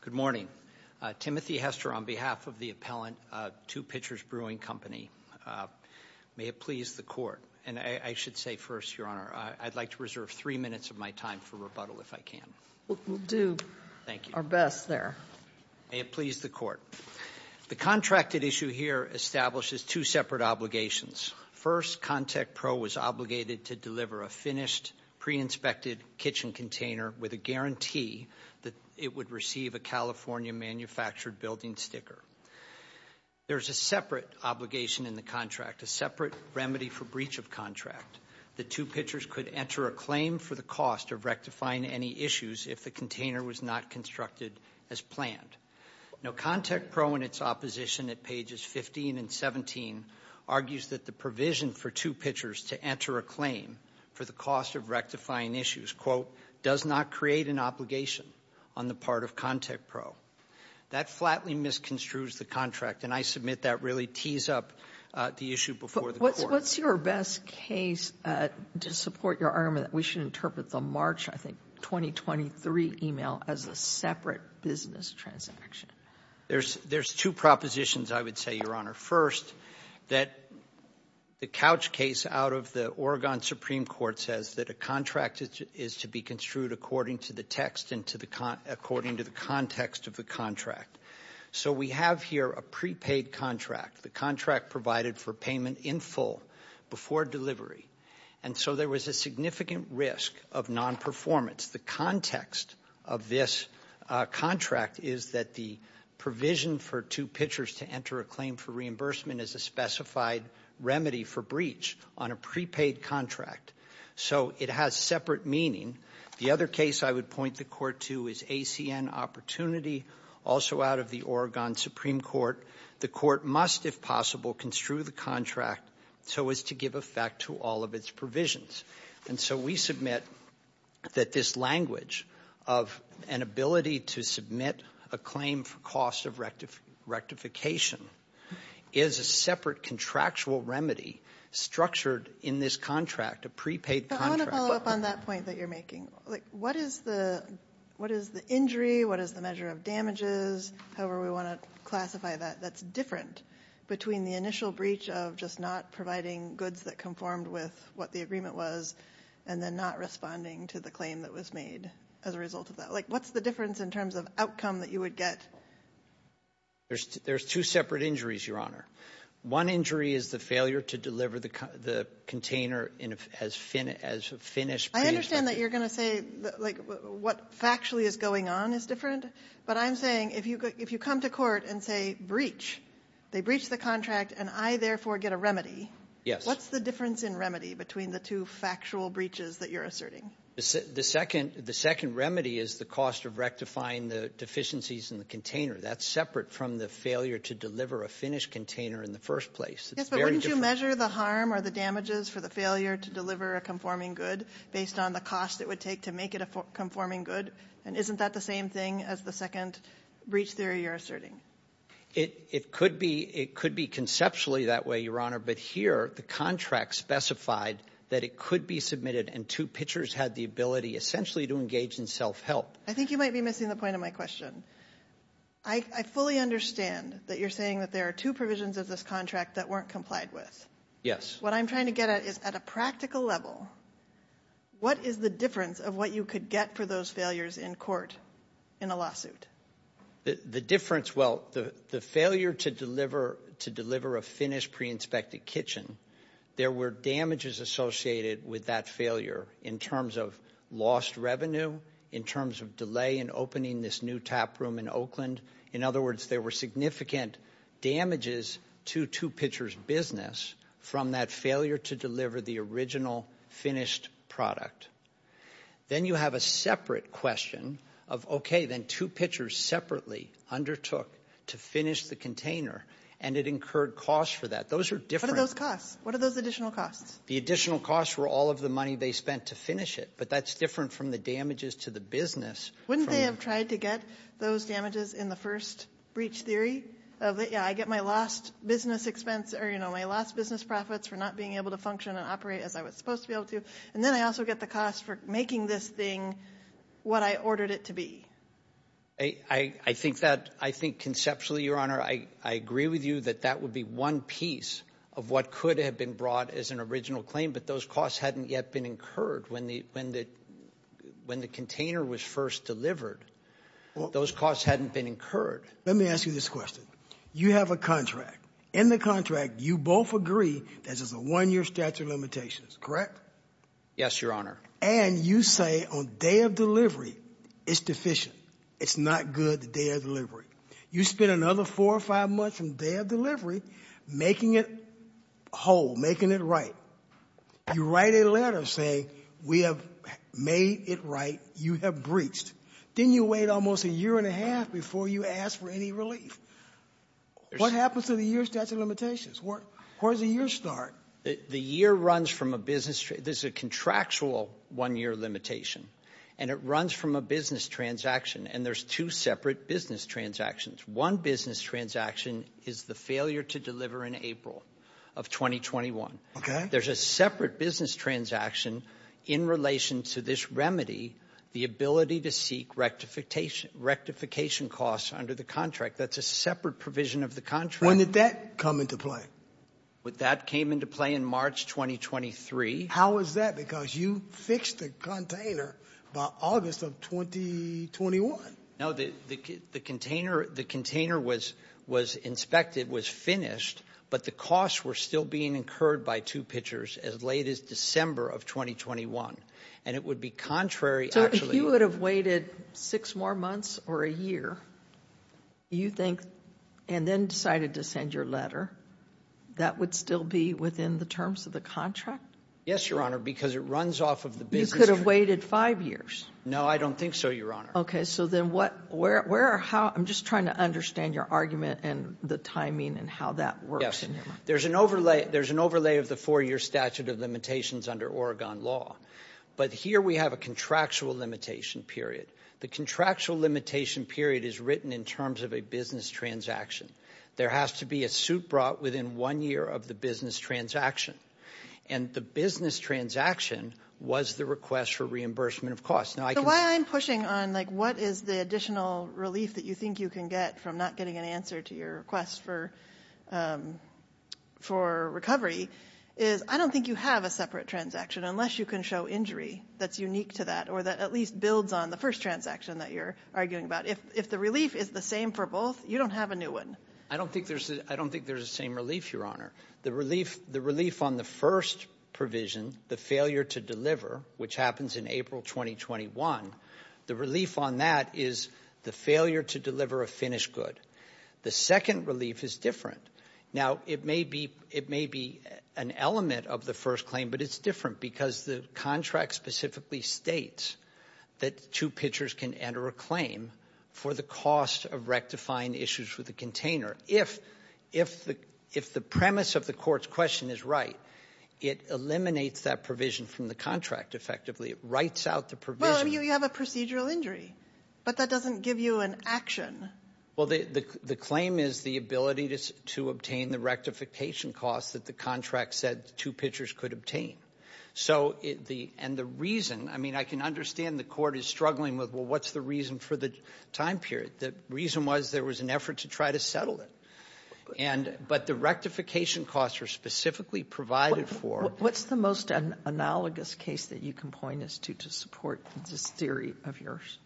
Good morning. Timothy Hester on behalf of the appellant to Pitcher's Brewing Company. May it please the Court. And I should say first, Your Honor, I'd like to reserve three minutes of my time for rebuttal if I can. We'll do our best there. May it please the Court. The contracted issue here establishes two separate obligations. First, ContekPro was obligated to deliver a finished, pre-inspected kitchen container with a guarantee that it would receive a California-manufactured building sticker. There's a separate obligation in the contract, a separate remedy for breach of contract, that two pitchers could enter a claim for the cost of rectifying any issues if the container was not constructed as planned. Now, ContekPro, in its opposition at pages 15 and 17, argues that the provision for two pitchers does not create an obligation on the part of ContekPro. That flatly misconstrues the contract, and I submit that really tees up the issue before the Court. But what's your best case to support your argument that we should interpret the March, I think, 2023 email as a separate business transaction? There's two propositions, I would say, Your Honor. First, that the couch case out of the Oregon Supreme Court says that a contract is to be construed according to the text and according to the context of the contract. So we have here a prepaid contract, the contract provided for payment in full before delivery. And so there was a significant risk of non-performance. The context of this contract is that the provision for two pitchers to enter a claim for reimbursement is a specified remedy for breach on a prepaid contract. So it has separate meaning. The other case I would point the Court to is ACN Opportunity, also out of the Oregon Supreme Court. The Court must, if possible, construe the contract so as to give effect to all of its provisions. And so we submit that this language of an ability to submit a claim for cost of rectification is a separate contractual remedy structured in this contract, a prepaid contract. But I want to follow up on that point that you're making. Like, what is the injury? What is the measure of damages, however we want to classify that, that's different between the initial breach of just not providing goods that conformed with what the agreement was and then not responding to the claim that was made as a result of that? Like, what's the difference in terms of outcome that you would get? There's two separate injuries, Your Honor. One injury is the failure to deliver the container as finished. I understand that you're going to say, like, what factually is going on is different. But I'm saying, if you come to court and say, breach, they breach the contract and I therefore get a remedy. Yes. What's the difference in remedy between the two factual breaches that you're asserting? The second remedy is the cost of rectifying the deficiencies in the container. That's separate from the failure to deliver a finished container in the first place. Yes, but wouldn't you measure the harm or the damages for the failure to deliver a conforming good based on the cost it would take to make it a conforming good? And isn't that the same thing as the second breach theory you're asserting? It could be. It could be conceptually that way, Your Honor. But here, the contract specified that it could be submitted and two pitchers had the ability essentially to engage in self-help. I think you might be missing the point of my question. I fully understand that you're saying that there are two provisions of this contract that weren't complied with. Yes. What I'm trying to get at is, at a practical level, what is the difference of what you could get for those failures in court in a lawsuit? The difference, well, the failure to deliver a finished pre-inspected kitchen, there were damages associated with that failure in terms of lost revenue, in terms of delay in opening this new tap room in Oakland. In other words, there were significant damages to two pitchers' business from that failure to deliver the original finished product. Then you have a separate question of, okay, then two pitchers separately undertook to finish the container, and it incurred costs for that. Those are different. What are those costs? What are those additional costs? The additional costs were all of the money they spent to finish it, but that's different from the damages to the business. Wouldn't they have tried to get those damages in the first breach theory of, yeah, I get my lost business expense or, you know, my lost business profits for not being able to function and operate as I was supposed to be able to? And then I also get the cost for making this thing what I ordered it to be. I think that, I think conceptually, Your Honor, I agree with you that that would be one piece of what could have been brought as an original claim, but those costs hadn't yet been incurred when the container was first delivered. Those costs hadn't been incurred. Let me ask you this question. You have a contract. In the contract, you both agree that there's a one-year statute of limitations, correct? Yes, Your Honor. And you say on day of delivery, it's deficient. It's not good the day of delivery. You spend another four or five months on day of delivery making it whole, making it right. You write a letter saying we have made it right. You have breached. Then you wait almost a year and a half before you ask for any relief. What happens to the year statute of limitations? Where does the year start? The year runs from a business. There's a contractual one-year limitation, and it runs from a business transaction. And there's two separate business transactions. One business transaction is the failure to deliver in April of 2021. Okay. There's a separate business transaction in relation to this remedy, the ability to seek rectification costs under the contract. That's a separate provision of the contract. When did that come into play? That came into play in March 2023. How is that? Because you fixed the container by August of 2021. No, the container was inspected, was finished, but the costs were still being incurred by two pitchers as late as December of 2021. And it would be contrary, actually. If you would have waited six more months or a year, you think, and then decided to send your letter, that would still be within the terms of the contract? Yes, Your Honor, because it runs off of the business. You could have waited five years. No, I don't think so, Your Honor. Okay, so then what, where, how, I'm just trying to understand your argument and the timing and how that works. There's an overlay of the four-year statute of limitations under Oregon law. But here we have a contractual limitation period. The contractual limitation period is written in terms of a business transaction. There has to be a suit brought within one year of the business transaction. And the business transaction was the request for reimbursement of costs. Now, I can- So why I'm pushing on, like, what is the additional relief that you think you can get from not getting an answer to your request for recovery, is I don't think you have a separate transaction unless you can show injury that's unique to that, or that at least builds on the first transaction that you're arguing about. If the relief is the same for both, you don't have a new one. I don't think there's the same relief, Your Honor. The relief on the first provision, the failure to deliver, which happens in April 2021. The relief on that is the failure to deliver a finished good. The second relief is different. Now, it may be an element of the first claim, but it's different because the contract specifically states that two pitchers can enter a claim for the cost of rectifying issues with the container. If the premise of the court's question is right, it eliminates that provision from the contract effectively, it writes out the provision. Well, you have a procedural injury, but that doesn't give you an action. Well, the claim is the ability to obtain the rectification cost that the contract said two pitchers could obtain. So, and the reason, I mean, I can understand the court is struggling with, well, what's the reason for the time period? The reason was there was an effort to try to settle it, but the rectification costs are specifically provided for. What's the most analogous case that you can point us to to support this theory of yours?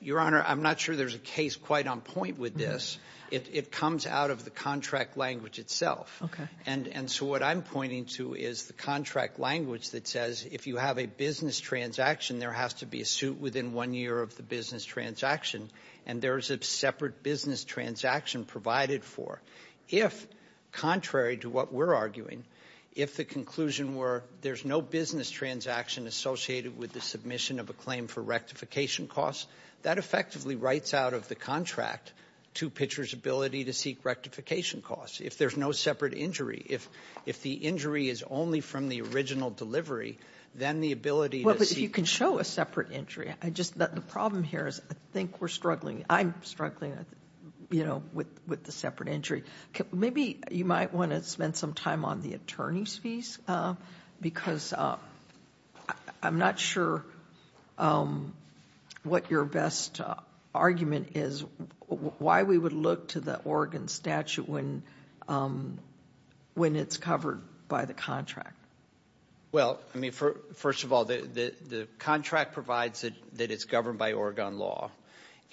Your Honor, I'm not sure there's a case quite on point with this. It comes out of the contract language itself. Okay. And so what I'm pointing to is the contract language that says if you have a business transaction, there has to be a suit within one year of the business transaction. And there's a separate business transaction provided for. If, contrary to what we're arguing, if the conclusion were there's no business transaction associated with the submission of a claim for rectification costs, that effectively writes out of the contract two pitchers' ability to seek rectification costs, if there's no separate injury. If the injury is only from the original delivery, then the ability to seek- Well, but if you can show a separate injury, I just, the problem here is I think we're struggling. I'm struggling with the separate injury. Maybe you might want to spend some time on the attorney's fees, because I'm not sure what your best argument is, why we would look to the Oregon statute when it's covered by the contract. Well, I mean, first of all, the contract provides that it's governed by Oregon law.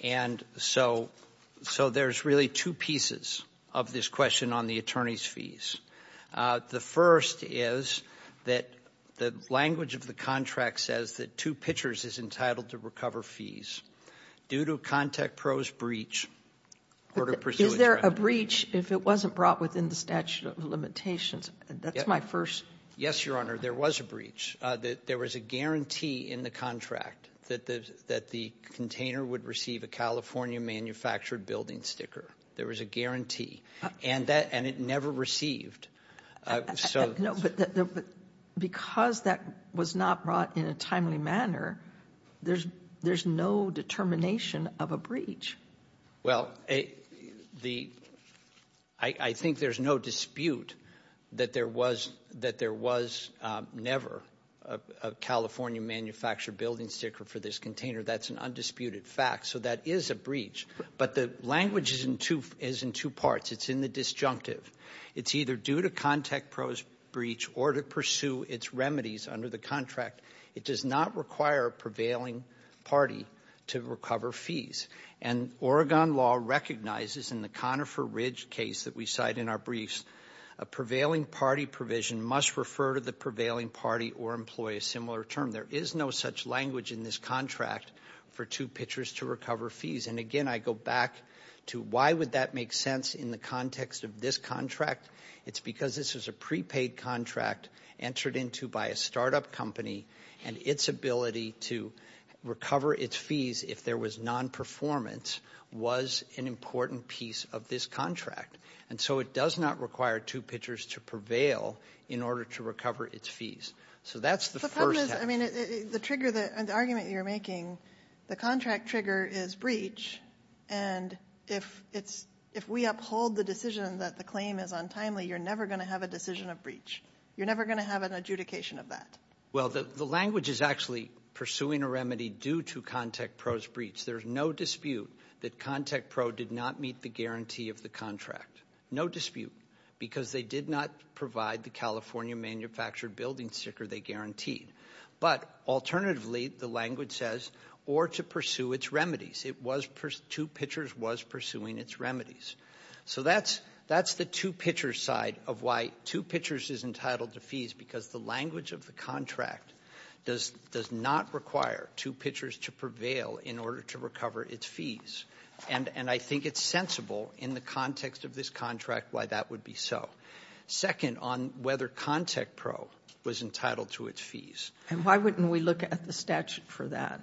And so there's really two pieces of this question on the attorney's fees. The first is that the language of the contract says that two pitchers is entitled to recover fees. Due to a contact pro's breach, order pursuant- Is there a breach if it wasn't brought within the statute of limitations? That's my first- Yes, Your Honor, there was a breach. There was a guarantee in the contract that the container would receive a California manufactured building sticker. There was a guarantee. And it never received. No, but because that was not brought in a timely manner, there's no determination of a breach. Well, I think there's no dispute that there was never a California manufactured building sticker for this container. That's an undisputed fact. So that is a breach. But the language is in two parts. It's in the disjunctive. It's either due to contact pro's breach or to pursue its remedies under the contract. It does not require a prevailing party to recover fees. And Oregon law recognizes in the Conifer Ridge case that we cite in our briefs, a prevailing party provision must refer to the prevailing party or employ a similar term. There is no such language in this contract for two pitchers to recover fees. And again, I go back to why would that make sense in the context of this contract? It's because this is a prepaid contract entered into by a startup company. And its ability to recover its fees if there was non-performance was an important piece of this contract. And so it does not require two pitchers to prevail in order to recover its fees. So that's the first. I mean, the argument you're making, the contract trigger is breach. And if we uphold the decision that the claim is untimely, you're never going to have a decision of breach. You're never going to have an adjudication of that. Well, the language is actually pursuing a remedy due to contact pro's breach. There's no dispute that contact pro did not meet the guarantee of the contract. No dispute, because they did not provide the California manufactured building sticker they guaranteed. But alternatively, the language says, or to pursue its remedies. It was, two pitchers was pursuing its remedies. So that's the two pitcher side of why two pitchers is entitled to fees, because the language of the contract does not require two pitchers to prevail in order to recover its fees. And I think it's sensible in the context of this contract why that would be so. Second, on whether contact pro was entitled to its fees. And why wouldn't we look at the statute for that?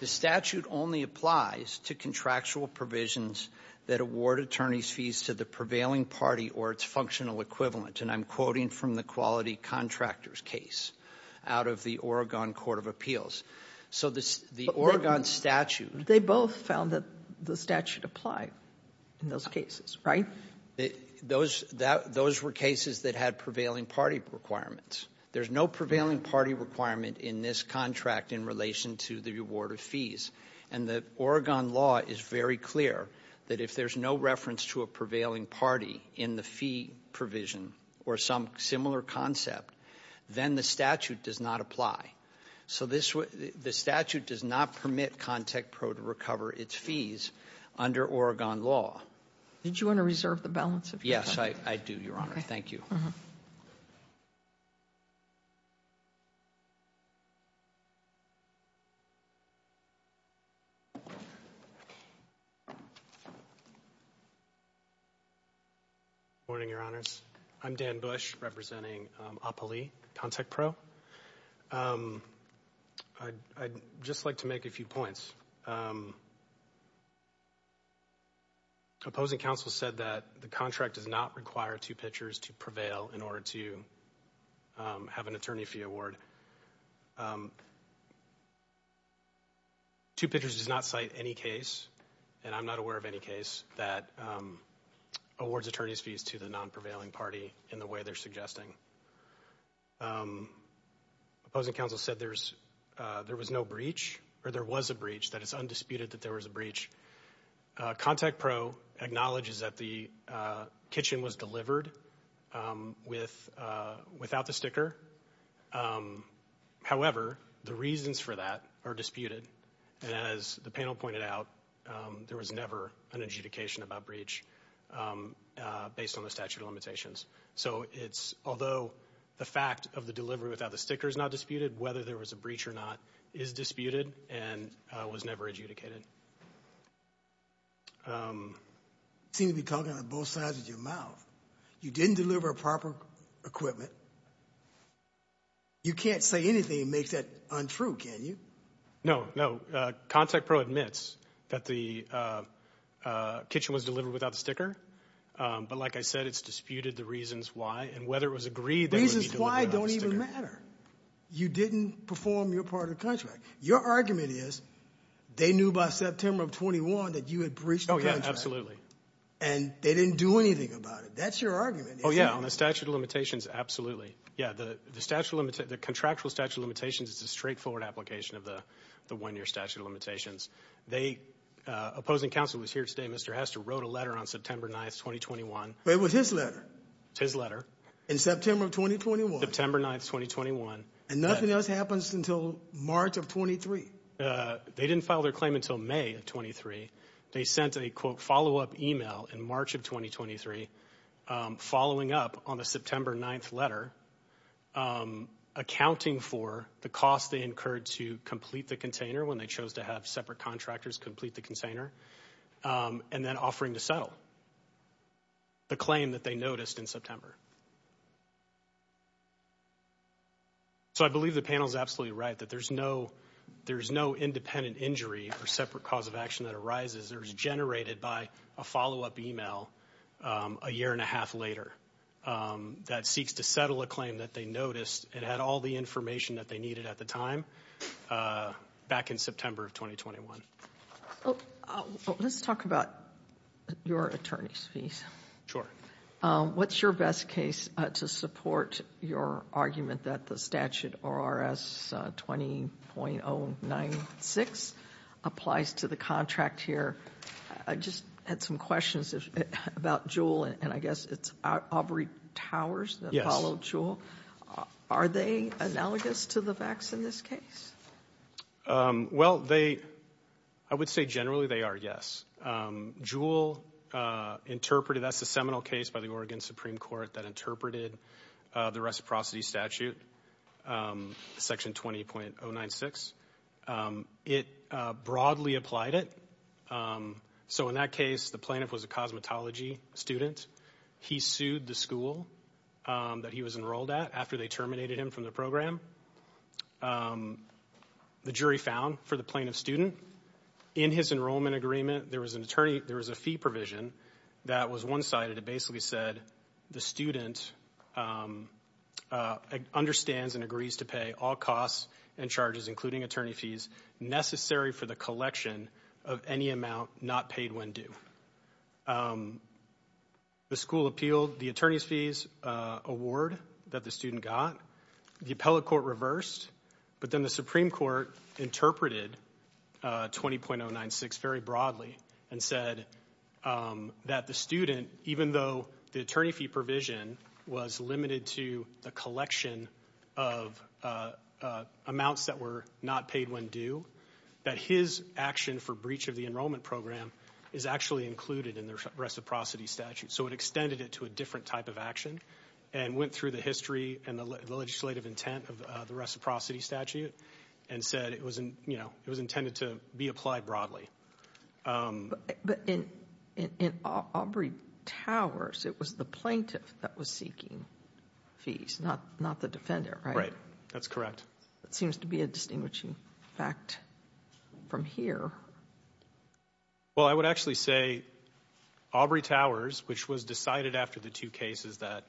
The statute only applies to contractual provisions that award attorney's fees to the prevailing party or its functional equivalent. And I'm quoting from the quality contractors case out of the Oregon Court of Appeals. So the Oregon statute- They both found that the statute applied in those cases, right? Those were cases that had prevailing party requirements. There's no prevailing party requirement in this contract in relation to the reward of fees. And the Oregon law is very clear that if there's no reference to a prevailing party in the fee provision or some similar concept, then the statute does not apply. So the statute does not permit contact pro to recover its fees under Oregon law. Did you want to reserve the balance of your time? Yes, I do, Your Honor. Thank you. Morning, Your Honors. I'm Dan Bush, representing APALE, Contact Pro. I'd just like to make a few points. Opposing counsel said that the contract does not require two pitchers to prevail in order to have an attorney fee award. Two pitchers does not cite any case, and I'm not aware of any case, that awards attorney's fees to the non-prevailing party in the way they're suggesting. Opposing counsel said there was no breach, or there was a breach, that it's undisputed that there was a breach. Contact Pro acknowledges that the kitchen was delivered without the sticker. However, the reasons for that are disputed. And as the panel pointed out, there was never an adjudication about breach based on the statute of limitations. So it's, although the fact of the delivery without the sticker is not disputed, whether there was a breach or not is disputed and was never adjudicated. Seem to be talking on both sides of your mouth. You didn't deliver proper equipment. You can't say anything that makes that untrue, can you? No, no. Contact Pro admits that the kitchen was delivered without the sticker. But like I said, it's disputed the reasons why, and whether it was agreed that it would be delivered without the sticker. Reasons why don't even matter. You didn't perform your part of the contract. Your argument is, they knew by September of 21 that you had breached the contract. Yeah, absolutely. And they didn't do anything about it. That's your argument. Yeah, on the statute of limitations, absolutely. Yeah, the contractual statute of limitations is a straightforward application of the one year statute of limitations. The opposing counsel was here today. Mr. Hester wrote a letter on September 9th, 2021. It was his letter. His letter. In September of 2021. September 9th, 2021. And nothing else happens until March of 23. They didn't file their claim until May of 23. They sent a, quote, follow up email in March of 2023, following up on the September 9th letter, accounting for the cost they incurred to complete the container when they chose to have separate contractors complete the container, and then offering to settle the claim that they noticed in September. So I believe the panel is absolutely right that there's no independent injury or separate cause of action that arises. It was generated by a follow up email a year and a half later that seeks to settle a claim that they noticed. It had all the information that they needed at the time back in September of 2021. Let's talk about your attorney's fees. Sure. What's your best case to support your argument that the statute ORS 20.096 applies to the contract here? I just had some questions about Juul, and I guess it's Aubrey Towers that followed Juul. Are they analogous to the facts in this case? Well, they, I would say generally they are, yes. Juul interpreted, that's the seminal case by the Oregon Supreme Court that interpreted the reciprocity statute, section 20.096. It broadly applied it. So in that case, the plaintiff was a cosmetology student. He sued the school that he was enrolled at after they terminated him from the program. The jury found for the plaintiff's student. In his enrollment agreement, there was a fee provision that was one-sided. It basically said the student understands and agrees to pay all costs and charges including attorney fees necessary for the collection of any amount not paid when due. The school appealed the attorney's fees award that the student got. The appellate court reversed, but then the Supreme Court interpreted 20.096 very broadly and said that the student, even though the attorney fee provision was limited to the collection of amounts that were not paid when due, that his action for breach of the enrollment program is actually included in the reciprocity statute. So it extended it to a different type of action. And went through the history and the legislative intent of the reciprocity statute and said it was intended to be applied broadly. But in Aubrey Towers, it was the plaintiff that was seeking fees, not the defender, right? Right, that's correct. That seems to be a distinguishing fact from here. Well, I would actually say Aubrey Towers, which was decided after the two cases that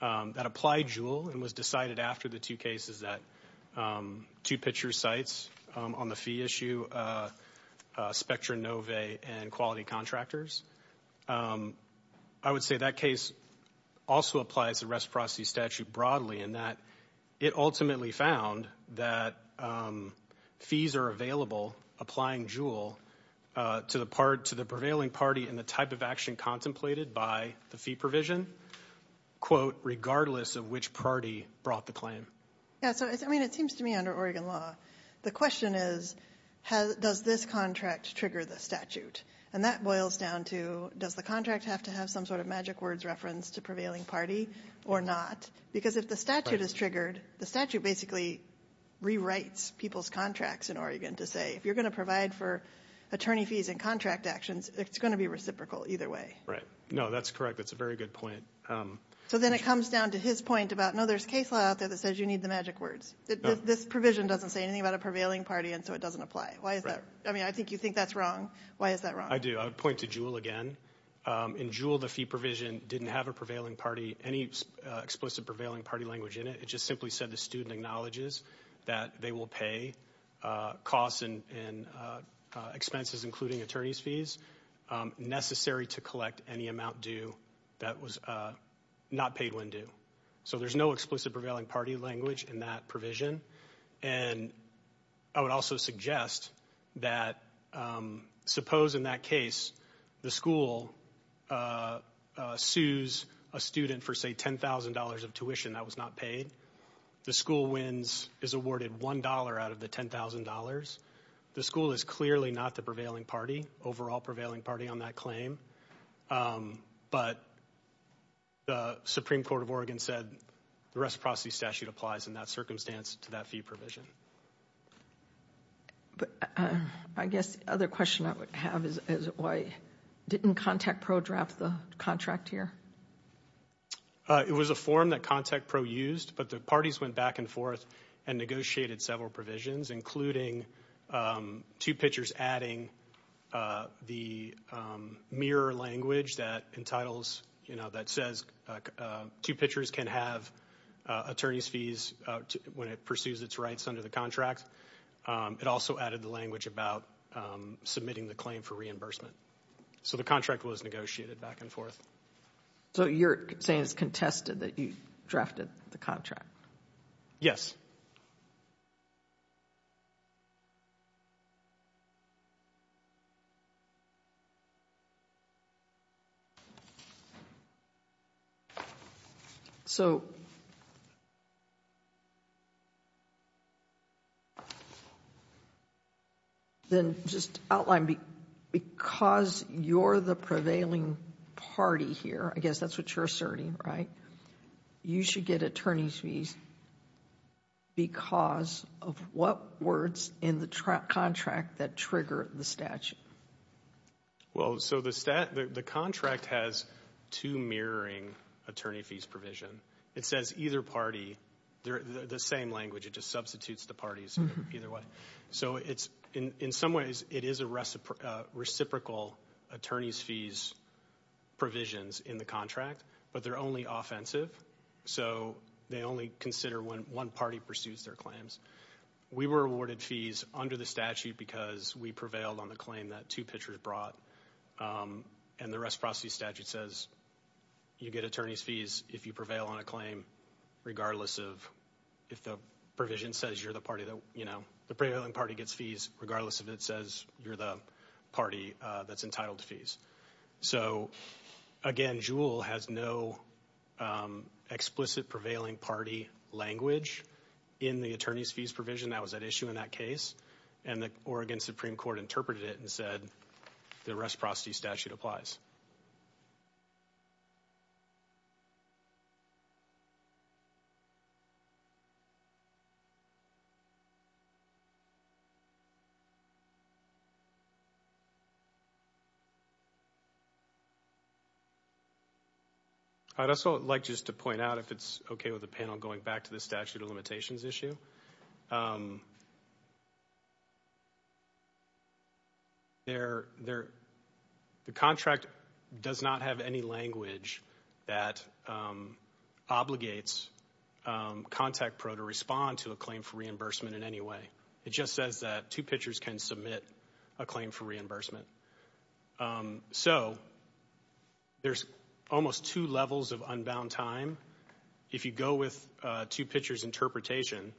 applied JUUL and was decided after the two cases that two picture sites on the fee issue, Spectra Nove and Quality Contractors. I would say that case also applies the reciprocity statute broadly in that it ultimately found that fees are available applying JUUL to the prevailing party and the type of action contemplated by the fee provision, quote, regardless of which party brought the claim. Yeah, so it seems to me under Oregon law, the question is, does this contract trigger the statute? And that boils down to, does the contract have to have some sort of magic words reference to prevailing party or not? Because if the statute is triggered, the statute basically rewrites people's contracts in Oregon to say, if you're going to provide for attorney fees and contract actions, it's going to be reciprocal either way. Right, no, that's correct. That's a very good point. So then it comes down to his point about, no, there's case law out there that says you need the magic words. This provision doesn't say anything about a prevailing party, and so it doesn't apply. Why is that? I mean, I think you think that's wrong. Why is that wrong? I do. I would point to JUUL again. In JUUL, the fee provision didn't have a prevailing party, any explicit prevailing party language in it. It just simply said the student acknowledges that they will pay costs and expenses, including attorney's fees, necessary to collect any amount due that was not paid when due. So there's no explicit prevailing party language in that provision. And I would also suggest that suppose in that case the school sues a student for, say, $10,000 of tuition that was not paid. The school wins, is awarded $1 out of the $10,000. The school is clearly not the prevailing party, overall prevailing party on that claim. But the Supreme Court of Oregon said the reciprocity statute applies in that circumstance to that fee provision. But I guess the other question I would have is why didn't ContactPro draft the contract here? It was a form that ContactPro used, but the parties went back and forth and negotiated several provisions, including two pitchers adding the mirror language that entitles, you know, that says two pitchers can have attorney's fees when it pursues its rights under the contract. It also added the language about submitting the claim for reimbursement. So the contract was negotiated back and forth. So you're saying it's contested that you drafted the contract? Yes. So then just outline, because you're the prevailing party here, I guess that's what you're asserting, right? You should get attorney's fees because of what words in the contract that trigger the statute? Well, so the contract has two mirroring attorney fees provision. It says either party, they're the same language. It just substitutes the parties either way. So in some ways, it is a reciprocal attorney's fees provisions in the contract, but they're only offensive. So they only consider when one party pursues their claims. We were awarded fees under the statute because we prevailed on the claim that two pitchers brought. And the reciprocity statute says you get attorney's fees if you prevail on a claim, regardless of if the provision says you're the party that, you know, the prevailing party gets fees, regardless of it says you're the party that's entitled to fees. So, again, Juul has no explicit prevailing party language in the attorney's fees provision that was at issue in that case, and the Oregon Supreme Court interpreted it and said the reciprocity statute applies. I'd also like just to point out, if it's okay with the panel, going back to the statute of limitations issue, there, the contract does not have any language that obligates ContactPro to respond to a claim for reimbursement in any way. It just says that two pitchers can submit a claim for reimbursement. So there's almost two levels of unbound time. If you go with two pitchers' interpretation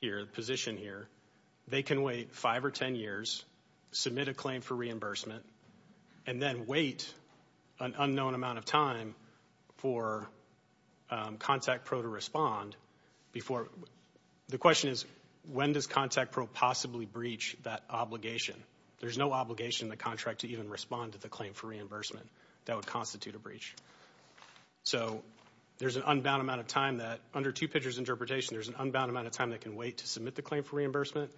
here, the position here, they can wait five or ten years, submit a claim for reimbursement, and then wait an unknown amount of time for ContactPro to respond before. The question is, when does ContactPro possibly breach that obligation? There's no obligation in the contract to even respond to the claim for reimbursement. That would constitute a breach. So there's an unbound amount of time that, under two pitchers' interpretation, there's an unbound amount of time that can wait to submit the claim for reimbursement,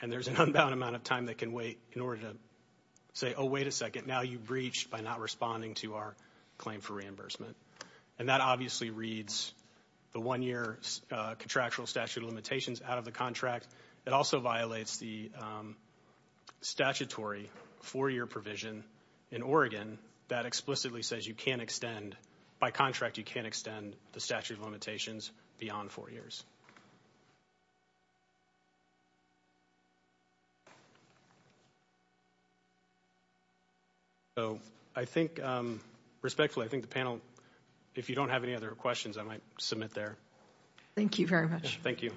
and there's an unbound amount of time that can wait in order to say, oh, wait a second, now you breached by not responding to our claim for reimbursement. And that obviously reads the one-year contractual statute of limitations out of the contract. It also violates the statutory four-year provision in Oregon that explicitly says you can't extend, by contract, you can't extend the statute of limitations beyond four years. So I think, respectfully, I think the panel, if you don't have any other questions, I might submit there. Thank you very much. Thank you.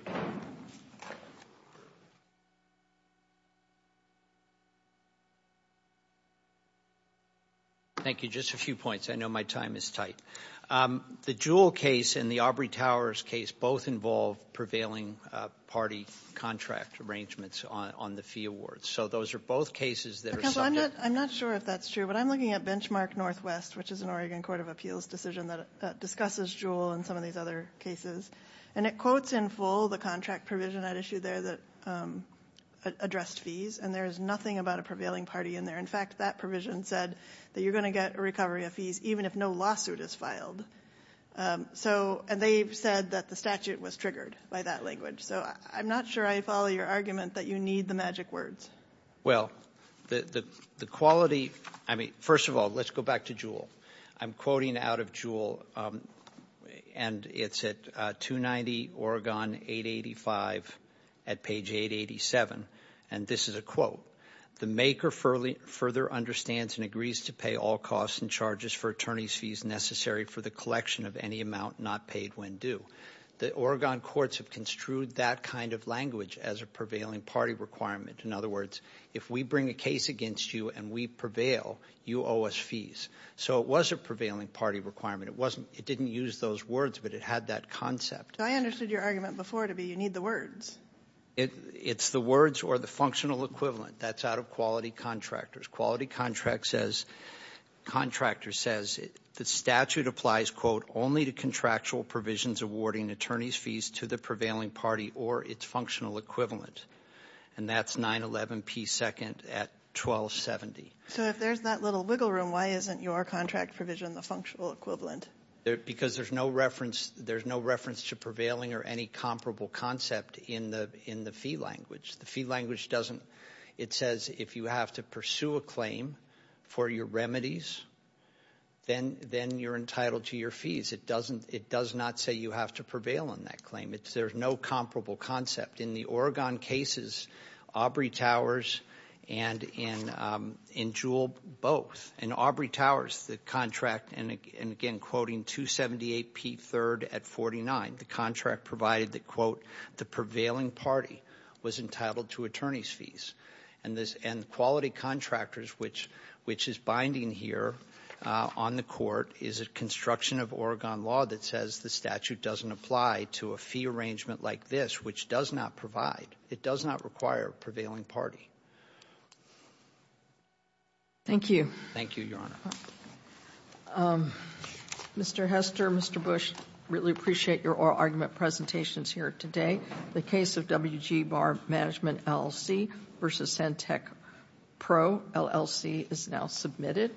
Thank you. Just a few points. I know my time is tight. The Jewell case and the Aubrey Towers case both involve prevailing party contract arrangements on the fee awards. So those are both cases that are subject. I'm not sure if that's true, but I'm looking at Benchmark Northwest, which is an Oregon Court of Appeals decision that discusses Jewell and some of these other cases. And it quotes in full the contract provision I'd issued there that addressed fees. And there is nothing about a prevailing party in there. In fact, that provision said that you're going to get a recovery of fees even if no lawsuit is filed. And they've said that the statute was triggered by that language. So I'm not sure I follow your argument that you need the magic words. Well, the quality, I mean, first of all, let's go back to Jewell. I'm quoting out of Jewell, and it's at 290 Oregon 885 at page 887. And this is a quote. The maker further understands and agrees to pay all costs and charges for attorney's fees necessary for the collection of any amount not paid when due. The Oregon courts have construed that kind of language as a prevailing party requirement. In other words, if we bring a case against you and we prevail, you owe us fees. So it was a prevailing party requirement. It didn't use those words, but it had that concept. I understood your argument before to be you need the words. It's the words or the functional equivalent. That's out of quality contractors. Quality contractor says the statute applies, quote, only to contractual provisions awarding attorney's fees to the prevailing party or its functional equivalent. And that's 911 P. 2nd at 1270. So if there's that little wiggle room, why isn't your contract provision the functional equivalent? Because there's no reference. There's no reference to prevailing or any comparable concept in the fee language. The fee language doesn't. It says if you have to pursue a claim for your remedies, then you're entitled to your fees. It doesn't. It does not say you have to prevail on that claim. There's no comparable concept in the Oregon cases. Aubrey Towers and in Jewell, both. And Aubrey Towers, the contract, and again, quoting 278 P. 3rd at 49. The contract provided that, quote, the prevailing party was entitled to attorney's fees. And quality contractors, which is binding here on the court, is a construction of Oregon law that says the statute doesn't apply to a fee arrangement like this, which does not provide. It does not require a prevailing party. Thank you. Thank you, Your Honor. Mr. Hester, Mr. Bush, really appreciate your oral argument presentations here today. The case of W.G. Barr Management LLC versus Santec Pro LLC is now submitted.